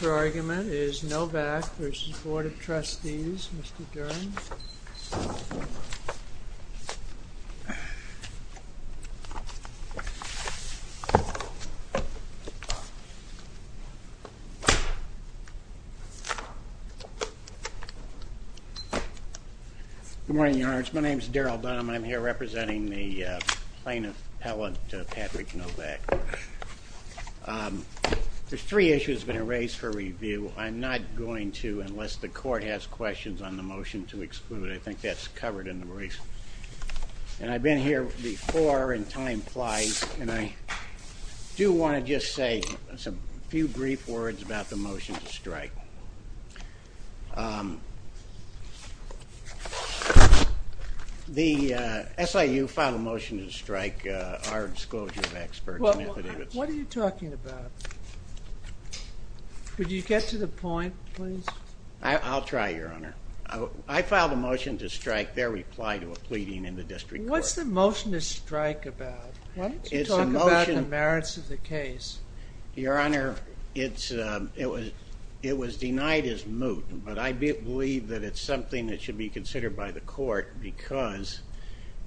The argument is Novak v. Board of Trustees. Mr. Duren. Good morning, Your Honors. My name is Daryl Dunham. I'm here representing the plaintiff, Patrick Novak. There's three issues I'm going to raise for review. I'm not going to, unless the court has questions on the motion to exclude. I think that's covered in the briefs. And I've been here before, and time flies, and I do want to just say a few brief words about the motion to strike. The SIU filed a motion to strike our disclosure of experts. What are you talking about? Would you get to the point, please? I'll try, Your Honor. I filed a motion to strike their reply to a pleading in the district court. What's the motion to strike about? Talk about the merits of the case. Your Honor, it was denied as moot, but I believe that it's something that should be considered by the court because,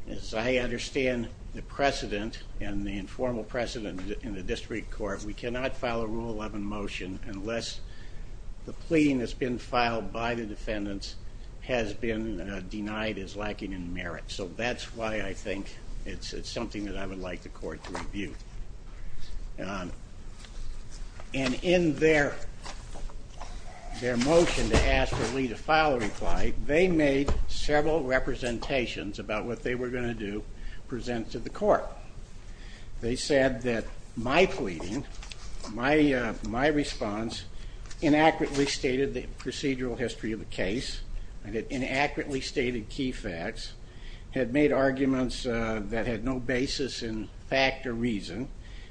as I understand the precedent and the informal precedent in the district court, we cannot file a Rule 11 motion unless the pleading that's been filed by the defendants has been denied as lacking in merit. So that's why I think it's something that I would like the court to review. And in their motion to ask for Lee to file a reply, they made several representations about what they were going to present to the court. They said that my pleading, my response, inaccurately stated the procedural history of the case, and it inaccurately stated key facts, had made arguments that had no basis in fact or reason,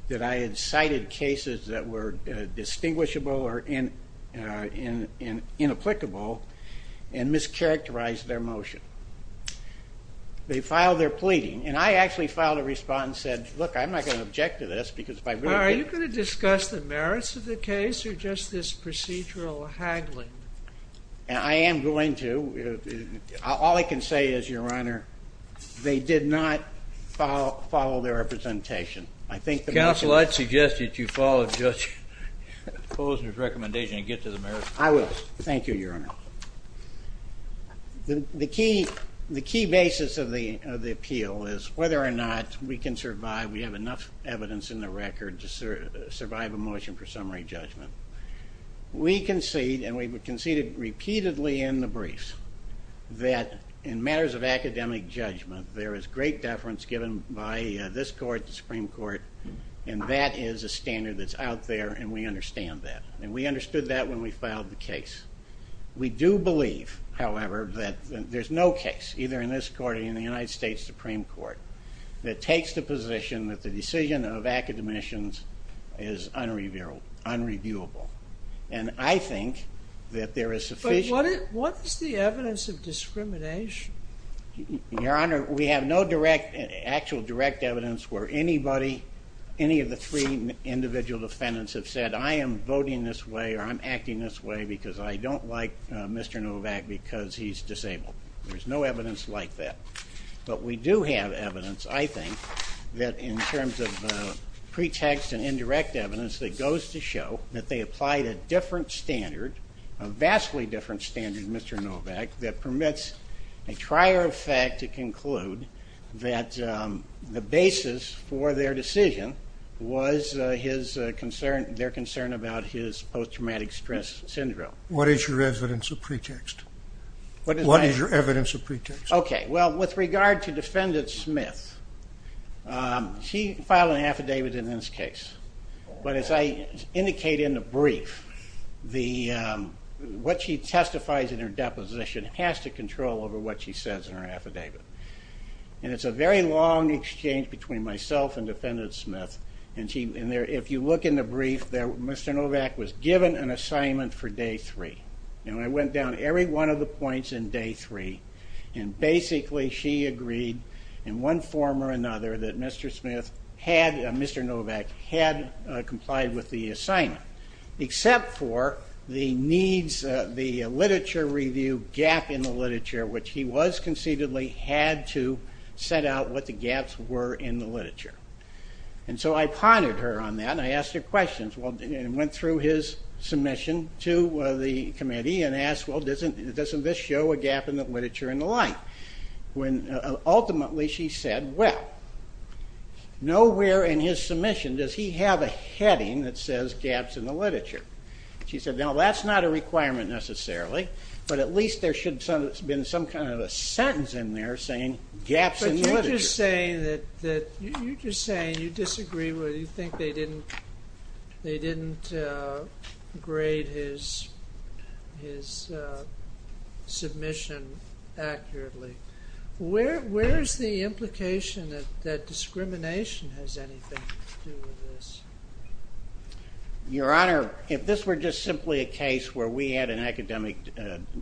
that I had cited cases that were distinguishable or inapplicable, and mischaracterized their motion. They filed their pleading, and I actually filed a response and said, look, I'm not going to object to this because if I really did... Well, are you going to discuss the merits of the case or just this procedural haggling? I am going to. All I can say is, Your Honor, they did not follow their representation. Counsel, I'd suggest that you follow Judge Posner's recommendation and get to the merits. I will. Thank you, Your Honor. The key basis of the appeal is whether or not we can survive, we have enough evidence in the record to survive a motion for summary judgment. We concede, and we conceded repeatedly in the briefs, that in matters of academic judgment, there is great deference given by this court, the Supreme Court, and that is a standard that's out there, and we understand that, and we understood that when we filed the case. We do believe, however, that there's no case, either in this court or in the United States Supreme Court, that takes the position that the decision of academicians is unreviewable, and I think that there is sufficient... But what is the evidence of discrimination? Your Honor, we have no direct, actual direct evidence where anybody, any of the three individual defendants have said, I am voting this way or I'm acting this way because I don't like do have evidence, I think, that in terms of pretext and indirect evidence that goes to show that they applied a different standard, a vastly different standard, Mr. Novak, that permits a trier of fact to conclude that the basis for their decision was their concern about his post-traumatic stress syndrome. What is your evidence of pretext? What is my... What is your evidence of pretext? Okay, well, with regard to Defendant Smith, she filed an affidavit in this case, but as I indicate in the brief, what she testifies in her deposition has to control over what she says in her affidavit, and it's a very long exchange between myself and Defendant Smith, and if you look in the brief there, Mr. Novak was given an assignment for day three, and basically she agreed in one form or another that Mr. Novak had complied with the assignment, except for the needs, the literature review gap in the literature, which he was conceitedly had to set out what the gaps were in the literature. And so I pondered her on that and I asked her questions and went through his submission to the committee and asked, well, doesn't this show a gap in the literature and the like? When ultimately she said, well, nowhere in his submission does he have a heading that says gaps in the literature. She said, no, that's not a requirement necessarily, but at least there should have been some kind You're just saying you disagree with, you think they didn't grade his submission accurately. Where is the implication that discrimination has anything to do with this? Your Honor, if this were just simply a case where we had an academic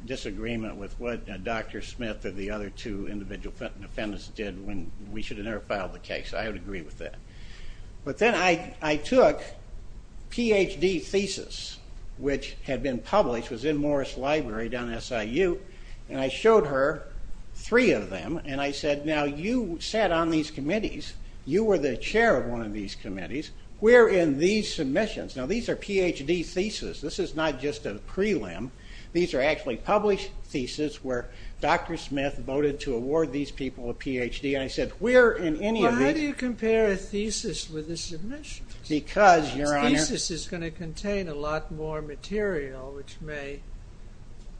disagreement with what Dr. Smith and the other two individual defendants did when we should have never filed the case, I would agree with that. But then I took Ph.D. thesis, which had been published, was in Morris Library down at SIU, and I showed her three of them and I said, now you sat on these committees, you were the chair of one of these committees, we're in these submissions. Now these are Ph.D. theses. This is not just a prelim. These are actually published theses where Dr. Smith voted to award these people a Ph.D. I said, we're in any of these. Well, how do you compare a thesis with a submission? Because, Your Honor. This thesis is going to contain a lot more material, which may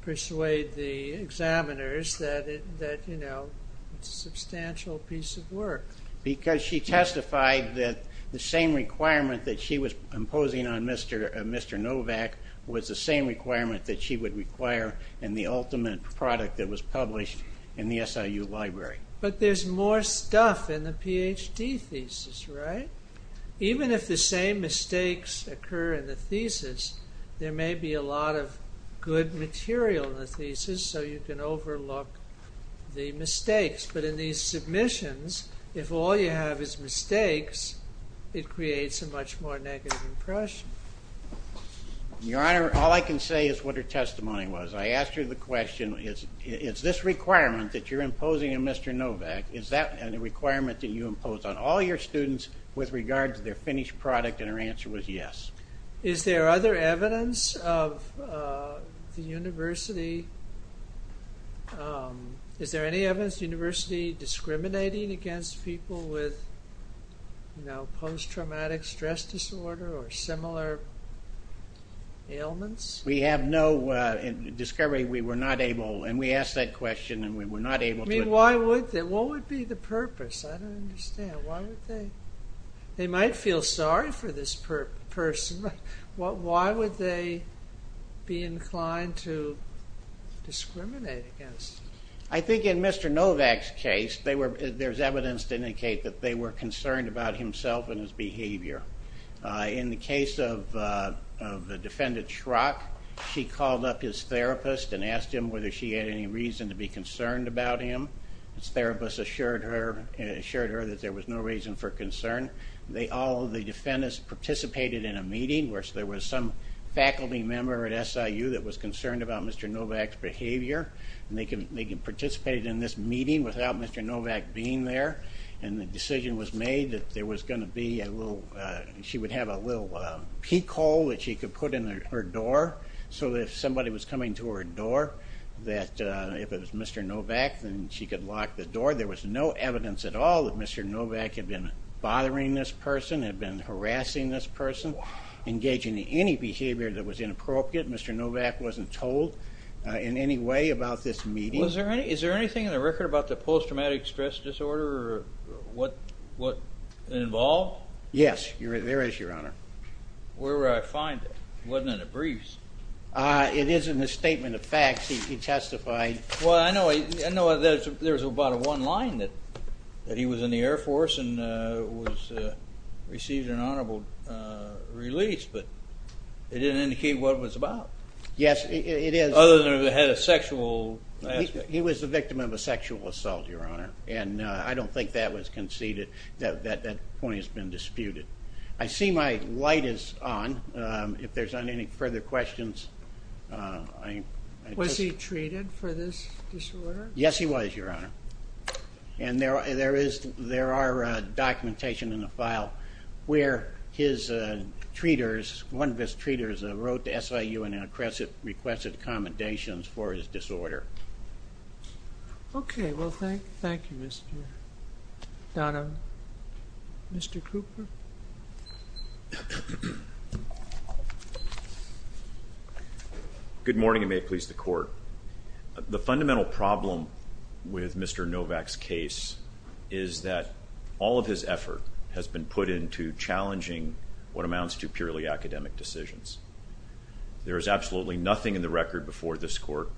persuade the examiners that it's a substantial piece of work. Because she testified that the same requirement that she was imposing on Mr. Novak was the same requirement that she would require in the ultimate product that was published in the SIU library. But there's more stuff in the Ph.D. thesis, right? Even if the same mistakes occur in the thesis, there may be a lot of good material in the thesis, so you can overlook the mistakes. But in these submissions, if all you have is mistakes, it creates a much more negative impression. Your Honor, all I can say is what her testimony was. I asked her the question, is this requirement that you're imposing on Mr. Novak, is that a requirement that you impose on all your students with regard to their finished product? And her answer was yes. Is there other evidence of the university, is there any evidence the university discriminating against people with post-traumatic stress disorder or similar ailments? We have no discovery. We were not able, and we asked that question, and we were not able to. I mean, why would they? What would be the purpose? I don't understand. Why would they? They might feel sorry for this person, but why would they be inclined to discriminate against them? I think in Mr. Novak's case, there's evidence to indicate that they were concerned about himself and his behavior. In the case of the defendant Schrock, she called up his therapist and asked him whether she had any reason to be concerned about him. His therapist assured her that there was no reason for concern. All of the defendants participated in a meeting where there was some faculty member at SIU that was concerned about Mr. Novak's behavior, and they participated in this meeting without Mr. Novak being there. And the decision was made that there was going to be a little, she would have a little peek hole that she could put in her door so that if somebody was coming to her door, that if it was Mr. Novak, then she could lock the door. There was no evidence at all that Mr. Novak had been bothering this person, had been harassing this person, engaging in any behavior that was inappropriate. Mr. Novak wasn't told in any way about this meeting. Was there any, is there anything in the record about the post-traumatic stress disorder, or what, involved? Yes, there is, Your Honor. Where would I find it? It wasn't in the briefs. It is in the statement of facts. He testified. Well, I know there's about a one line that he was in the Air Force and received an honorable release, but it didn't indicate what it was about. Yes, it is. Other than it had a sexual aspect. He was the victim of a sexual assault, Your Honor, and I don't think that was conceded. That point has been disputed. I see my light is on. If there's any further questions, I... Was he treated for this disorder? Yes, he was, Your Honor. And there is, there are documentation in the file where his treaters, one of his treaters, wrote to SIU and requested commendations for his disorder. Okay, well, thank you, Mr. Donovan. Mr. Cooper? The fundamental problem with Mr. Novak's case is that all of his effort has been put into challenging what amounts to purely academic decisions. There is absolutely nothing in the record before this court,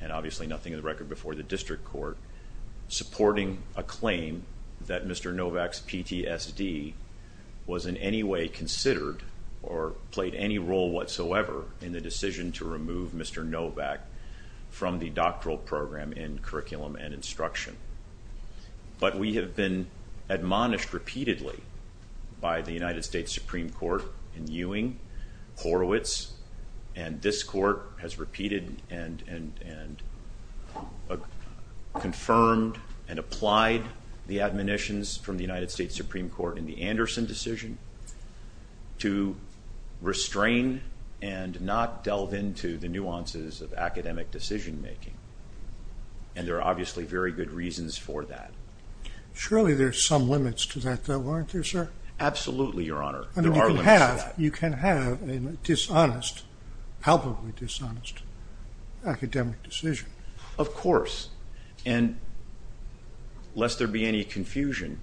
and obviously nothing in the record before the district court, supporting a claim that Mr. Novak's PTSD was in any way considered or played any role whatsoever in the decision to remove Mr. Novak from the doctoral program in curriculum and instruction. But we have been admonished repeatedly by the United States Supreme Court in Ewing, Horowitz, and this court has repeated and confirmed and applied the admonitions from the United States Supreme Court in the Anderson decision to restrain and not delve into the nuances of academic decision-making. And there are obviously very good reasons for that. Surely there are some limits to that, though, aren't there, sir? Absolutely, Your Honor. You can have a dishonest, palpably dishonest, academic decision. Of course. And lest there be any confusion,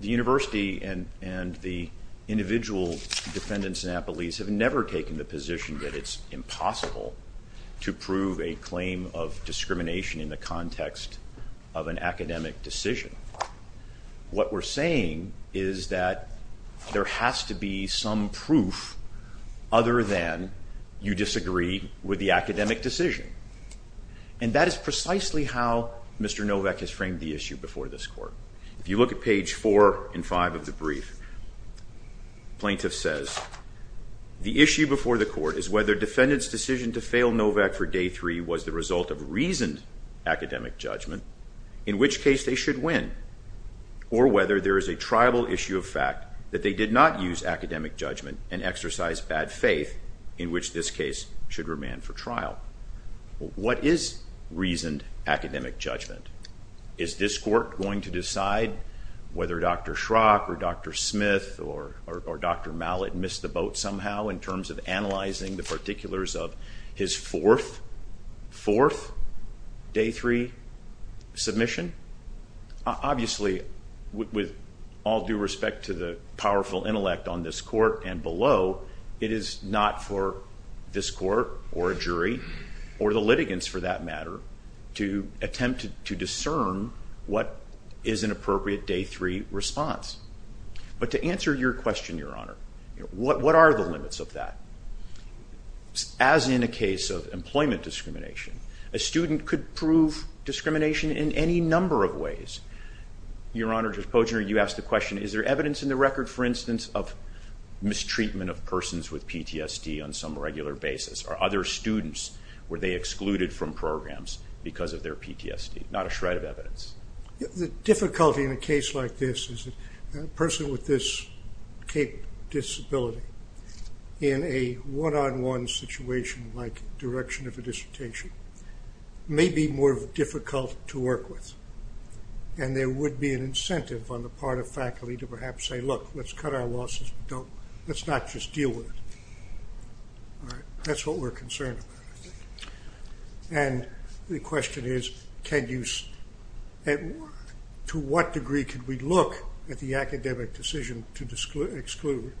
the university and the individual defendants and appellees have never taken the position that it's impossible to prove a claim of discrimination in the context of an academic decision. What we're saying is that there has to be some proof other than you disagree with the academic decision. And that is precisely how Mr. Novak has framed the issue before this court. If you look at page four and five of the brief, plaintiff says, the issue before the court is whether defendant's decision to fail Novak for day three was the result of reasoned academic judgment, in which case they should win, or whether there is a triable issue of fact that they did not use academic judgment and exercise bad faith, in which this case should remand for trial. What is reasoned academic judgment? Is this court going to decide whether Dr. Schrock or Dr. Smith or Dr. Mallett missed the boat somehow in terms of analyzing the particulars of his fourth, fourth day three submission? Obviously, with all due respect to the powerful intellect on this court and below, it is not for this court or a jury or the litigants for that matter to attempt to discern what is an appropriate day three response. But to answer your question, Your Honor, what are the limits of that? As in a case of employment discrimination, a student could prove discrimination in any number of ways. Your Honor, Judge Poggioner, you asked the question, is there evidence in the record, for instance, of mistreatment of persons with PTSD on some regular basis? Are other students, were they excluded from programs because of their PTSD? Not a shred of evidence. The difficulty in a case like this is that a person with this disability in a one-on-one situation like direction of a dissertation may be more difficult to work with, and there would be an incentive on the part of faculty to perhaps say, look, let's cut our losses. Let's not just deal with it. That's what we're concerned about. And the question is, to what degree can we look at the academic decision to exclude,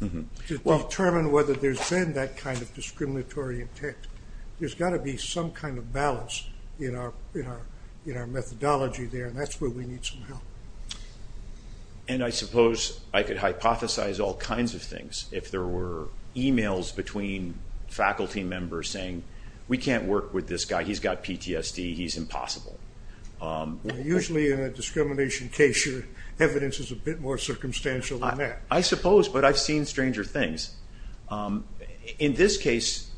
to determine whether there's been that kind of discriminatory intent? There's got to be some kind of balance in our methodology there, and that's where we need some help. And I suppose I could hypothesize all kinds of things. If there were e-mails between faculty members saying, we can't work with this guy, he's got PTSD, he's impossible. Usually in a discrimination case, your evidence is a bit more circumstantial than that. I suppose, but I've seen stranger things. In this case,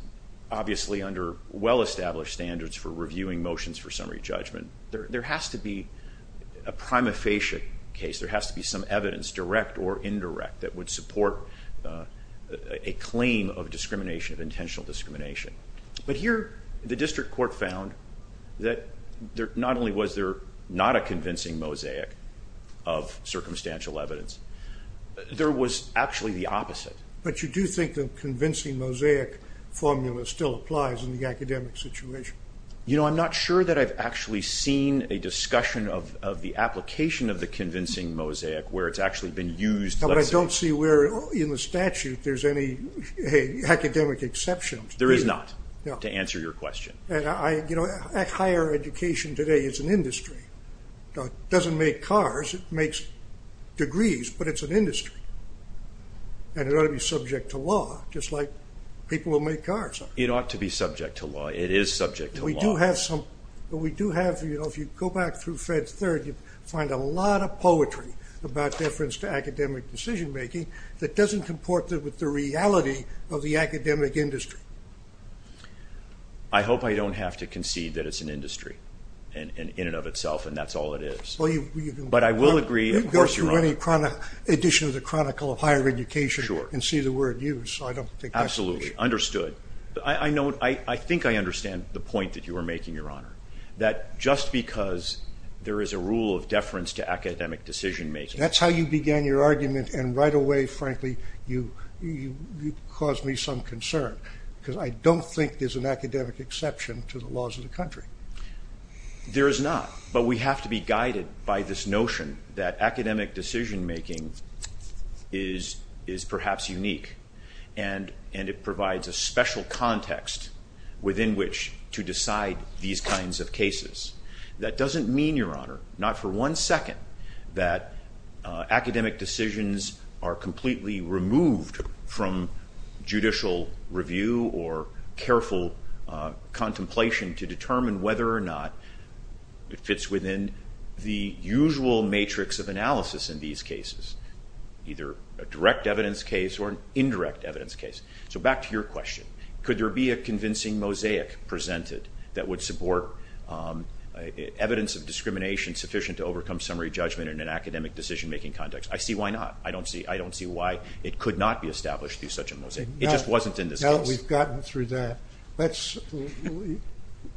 obviously under well-established standards for reviewing motions for summary judgment, there has to be a prima facie case. There has to be some evidence, direct or indirect, that would support a claim of discrimination, of intentional discrimination. But here, the district court found that not only was there not a convincing mosaic of circumstantial evidence, there was actually the opposite. But you do think the convincing mosaic formula still applies in the academic situation? I'm not sure that I've actually seen a discussion of the application of the convincing mosaic, where it's actually been used. I don't see where in the statute there's any academic exception. Higher education today is an industry. It doesn't make cars, it makes degrees, but it's an industry. And it ought to be subject to law, just like people who make cars are. It ought to be subject to law, it is subject to law. But we do have, if you go back through Fed Third, you find a lot of poetry about deference to academic decision making, that doesn't comport with the reality of the academic industry. I hope I don't have to concede that it's an industry, in and of itself, and that's all it is. But I will agree... You can go through any edition of the Chronicle of Higher Education and see the word used. Absolutely, understood. I think I understand the point that you were making, Your Honor, that just because there is a rule of deference to academic decision making... That's how you began your argument, and right away, frankly, you caused me some concern, because I don't think there's an academic exception to the laws of the country. There is not, but we have to be guided by this notion that academic decision making is perhaps unique, and it provides a special context within which to decide these kinds of cases. That doesn't mean, Your Honor, not for one second, that academic decisions are completely removed from judicial review or careful contemplation to determine whether or not it fits within the usual matrix of analysis in these cases, either a direct evidence case or an indirect evidence case. So back to your question. Could there be a convincing mosaic presented that would support evidence of discrimination sufficient to overcome summary judgment in an academic decision making context? I see why not. I don't see why it could not be established through such a mosaic. It just wasn't in this case. No, we've gotten through that. Let's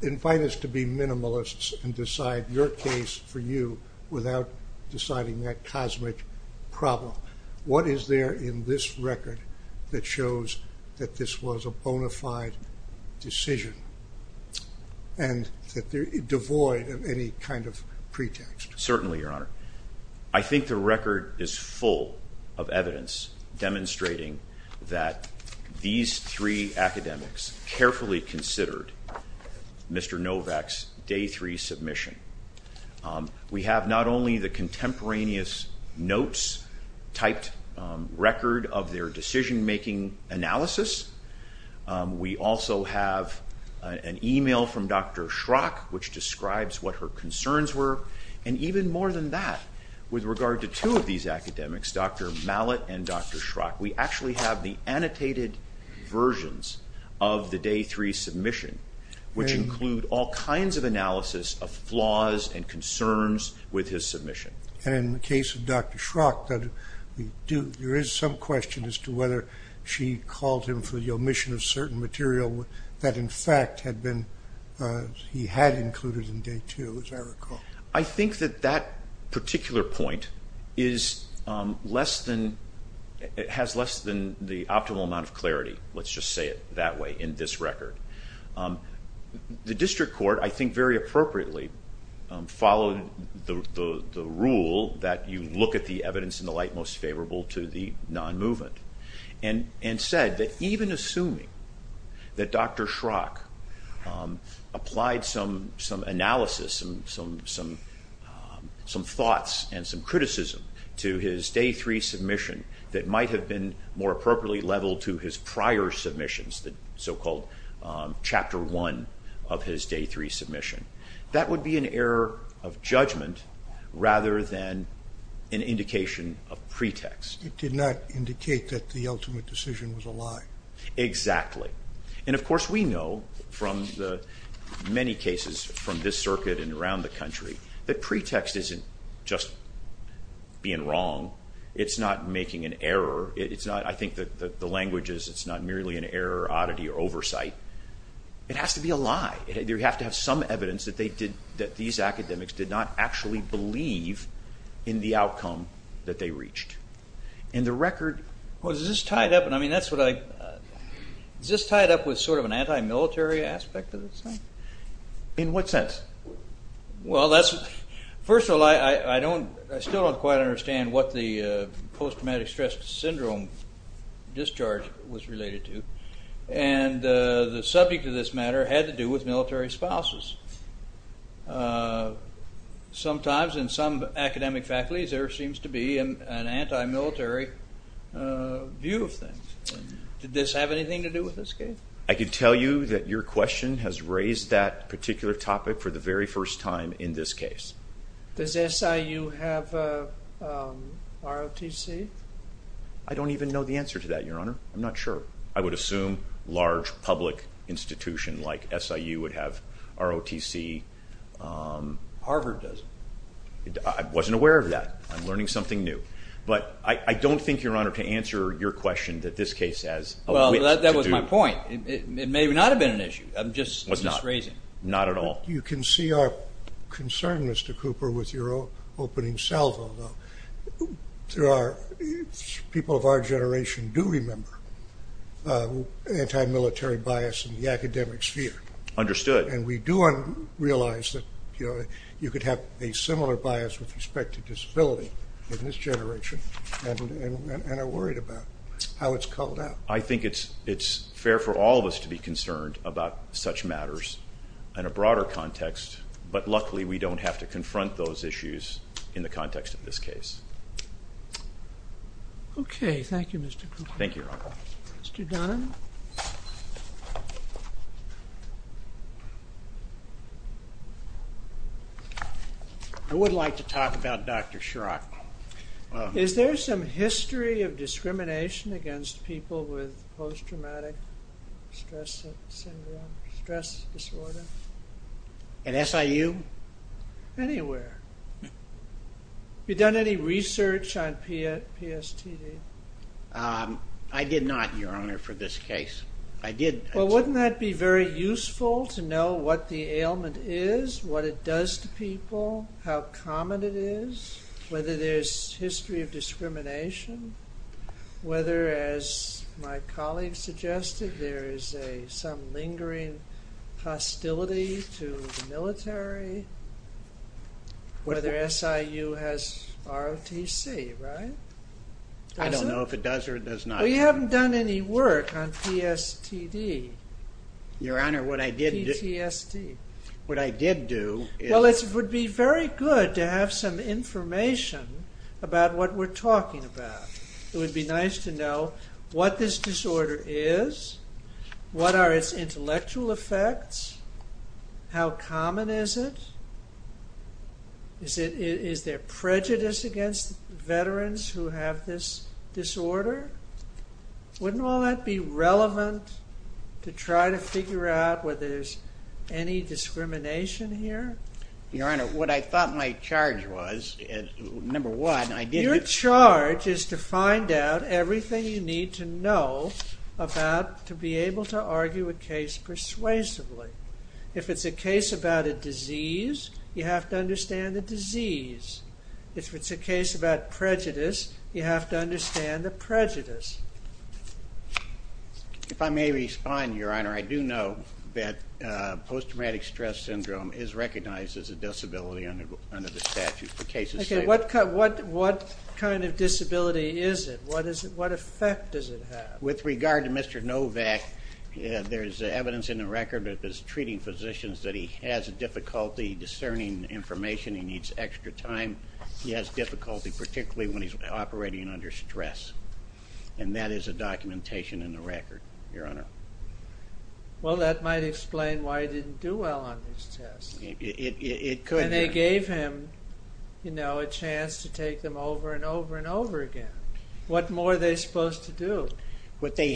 invite us to be minimalists and decide your case for you without deciding that cosmic problem. What is there in this record that shows that this was a bona fide decision and that they're devoid of any kind of pretext? Certainly, Your Honor. I think the record is full of evidence demonstrating that these three academics carefully considered Mr. Novak's day three submission. We have not only the contemporaneous notes typed record of their decision making analysis. We also have an email from Dr. Schrock which describes what her concerns were. And even more than that, with regard to two of these academics, Dr. Mallett and Dr. Schrock, we actually have the annotated versions of the day three submission which include all kinds of analysis of flaws and concerns with his submission. And in the case of Dr. Schrock, there is some question as to whether she called him for the omission of certain material that in fact he had included in day two, as I recall. I think that that particular point has less than the optimal amount of clarity. Let's just say it that way in this record. The district court, I think very appropriately, followed the rule that you look at the evidence in the light most favorable to the non-movement and said that even assuming that Dr. Schrock applied some analysis, some thoughts and some criticism to his day three submission that might have been more appropriately leveled to his prior submissions, the so-called chapter one of his day three submission. That would be an error of judgment rather than an indication of pretext. It did not indicate that the ultimate decision was a lie. Exactly. And of course we know from the many cases from this circuit and around the country that pretext isn't just being wrong. It's not making an error. I think the language is it's not merely an error, oddity or oversight. It has to be a lie. You have to have some evidence that these academics did not actually believe in the outcome that they reached. And the record... Is this tied up with sort of an anti-military aspect of this? In what sense? Well, that's... First of all, I don't... I still don't quite understand what the post-traumatic stress syndrome discharge was related to. And the subject of this matter had to do with military spouses. Sometimes in some academic faculties there seems to be an anti-military view of things. Did this have anything to do with this case? I can tell you that your question has raised that particular topic for the very first time in this case. Does SIU have a ROTC? I don't even know the answer to that, Your Honor. I'm not sure. I would assume large public institutions like SIU would have ROTC. Harvard does. I wasn't aware of that. I'm learning something new. But I don't think, Your Honor, to answer your question that this case has... Well, that was my point. It may not have been an issue. I'm just raising. Not at all. You can see our concern, Mr. Cooper, with your opening salvo, though. People of our generation do remember anti-military bias in the academic sphere. Understood. And we do realize that you could have a similar bias with respect to disability in this generation and are worried about how it's called out. I think it's fair for all of us to be concerned about such matters in a broader context, but luckily we don't have to confront those issues in the context of this case. Okay. Thank you, Mr. Cooper. Thank you, Your Honor. Mr. Donovan? I would like to talk about Dr. Schrock. Is there some history of discrimination against people with post-traumatic stress disorder? At SIU? Anywhere. You done any research on PSTD? I did not, Your Honor, for this case. Well, wouldn't that be very useful to know what the ailment is, what it does to people, how common it is, whether there's history of discrimination, whether, as my colleague suggested, there is some lingering hostility to the military, whether SIU has ROTC, right? I don't know if it does or it does not. Well, you haven't done any work on PSTD. Your Honor, what I did... PTSD. What I did do is... Well, it would be very good to have some information about what we're talking about. It would be nice to know what this disorder is, what are its intellectual effects, how common is it, is there prejudice against veterans who have this disorder? Wouldn't all that be relevant to try to figure out whether there's any discrimination here? Your Honor, what I thought my charge was number one, I did... Your charge is to find out everything you need to know about to be able to argue a case persuasively. If it's a case about a disease, you have to understand the disease. If it's a case about prejudice, you have to understand the prejudice. If I may respond, Your Honor, I do know that post-traumatic stress syndrome is recognized as a disability under the statute for cases... Okay, what kind of disability is it? What effect does it have? With regard to Mr. Novak, there's evidence in the record that he's treating physicians that he has difficulty discerning information, he needs extra time, he has difficulty particularly when he's operating under stress. And that is a documentation in the record, Your Honor. Well, that might explain why he didn't do well on these tests. It could. And they gave him, you know, a chance to take them over and over and over again. What more are they supposed to do? What Dr.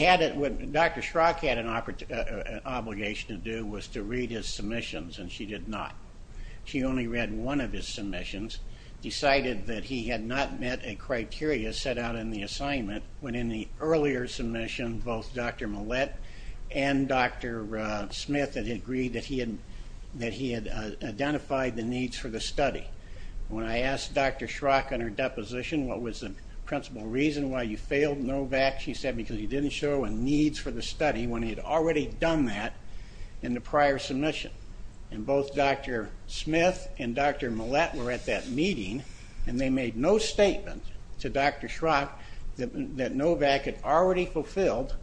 Schrock had an obligation to do was to read his submissions, and she did not. She only read one of his submissions, decided that he had not met a criteria set out in the assignment, when in the earlier submission, both Dr. Millett and Dr. Smith had agreed that he had identified the needs for the study. When I asked Dr. Schrock on her deposition what was the principal reason why you failed Novak, she said because you didn't show a need for the study when he had already done that in the prior submission. And both Dr. Smith and Dr. Millett were at that meeting, and they made no statement to Dr. Schrock that Novak had already fulfilled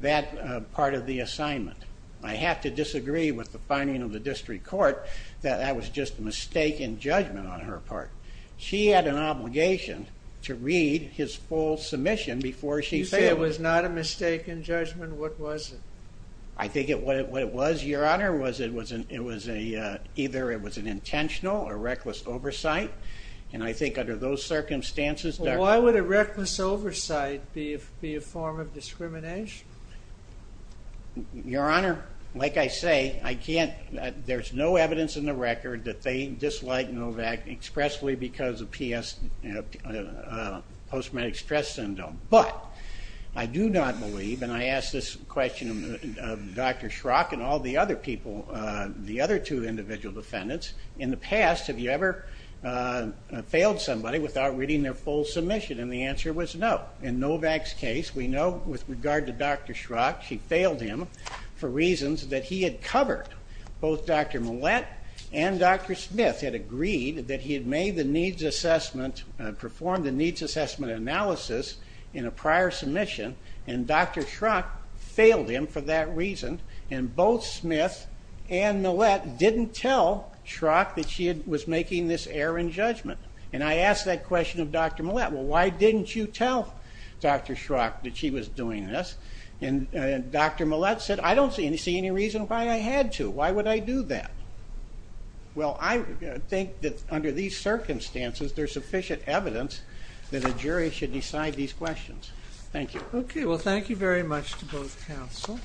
that part of the assignment. I have to disagree with the finding of the district court that that was just a mistaken judgment on her part. She had an obligation to read his full submission before she failed. You say it was not a mistaken judgment? What was it? I think what it was, Your Honor, was it was either it was an intentional or reckless oversight, and I think under those circumstances Dr. Why would a reckless oversight be a form of discrimination? Your Honor, like I say, there's no evidence in the record that they dislike Novak expressly because of post-traumatic stress syndrome. But I do not believe, and I ask this question of Dr. Schrock and all the other people, the other two individual defendants, in the past have you ever failed somebody without reading their full submission? And the answer was no. In Novak's case we know with regard to Dr. Schrock she failed him for reasons that he had covered. Both Dr. Millett and Dr. Smith had agreed that he had made the needs assessment, performed the needs assessment analysis in a prior submission, and Dr. Schrock failed him for that reason, and both Smith and Millett didn't tell Schrock that she was making this error in judgment. And I ask that question of Dr. Millett. Well, why didn't you tell Dr. Schrock that she was doing this? And Dr. Millett said, I don't see any reason why I had to. Why would I do that? Well, I think that under these circumstances there's sufficient evidence that a jury should decide these questions. Thank you. Okay, well thank you very much to both counsel.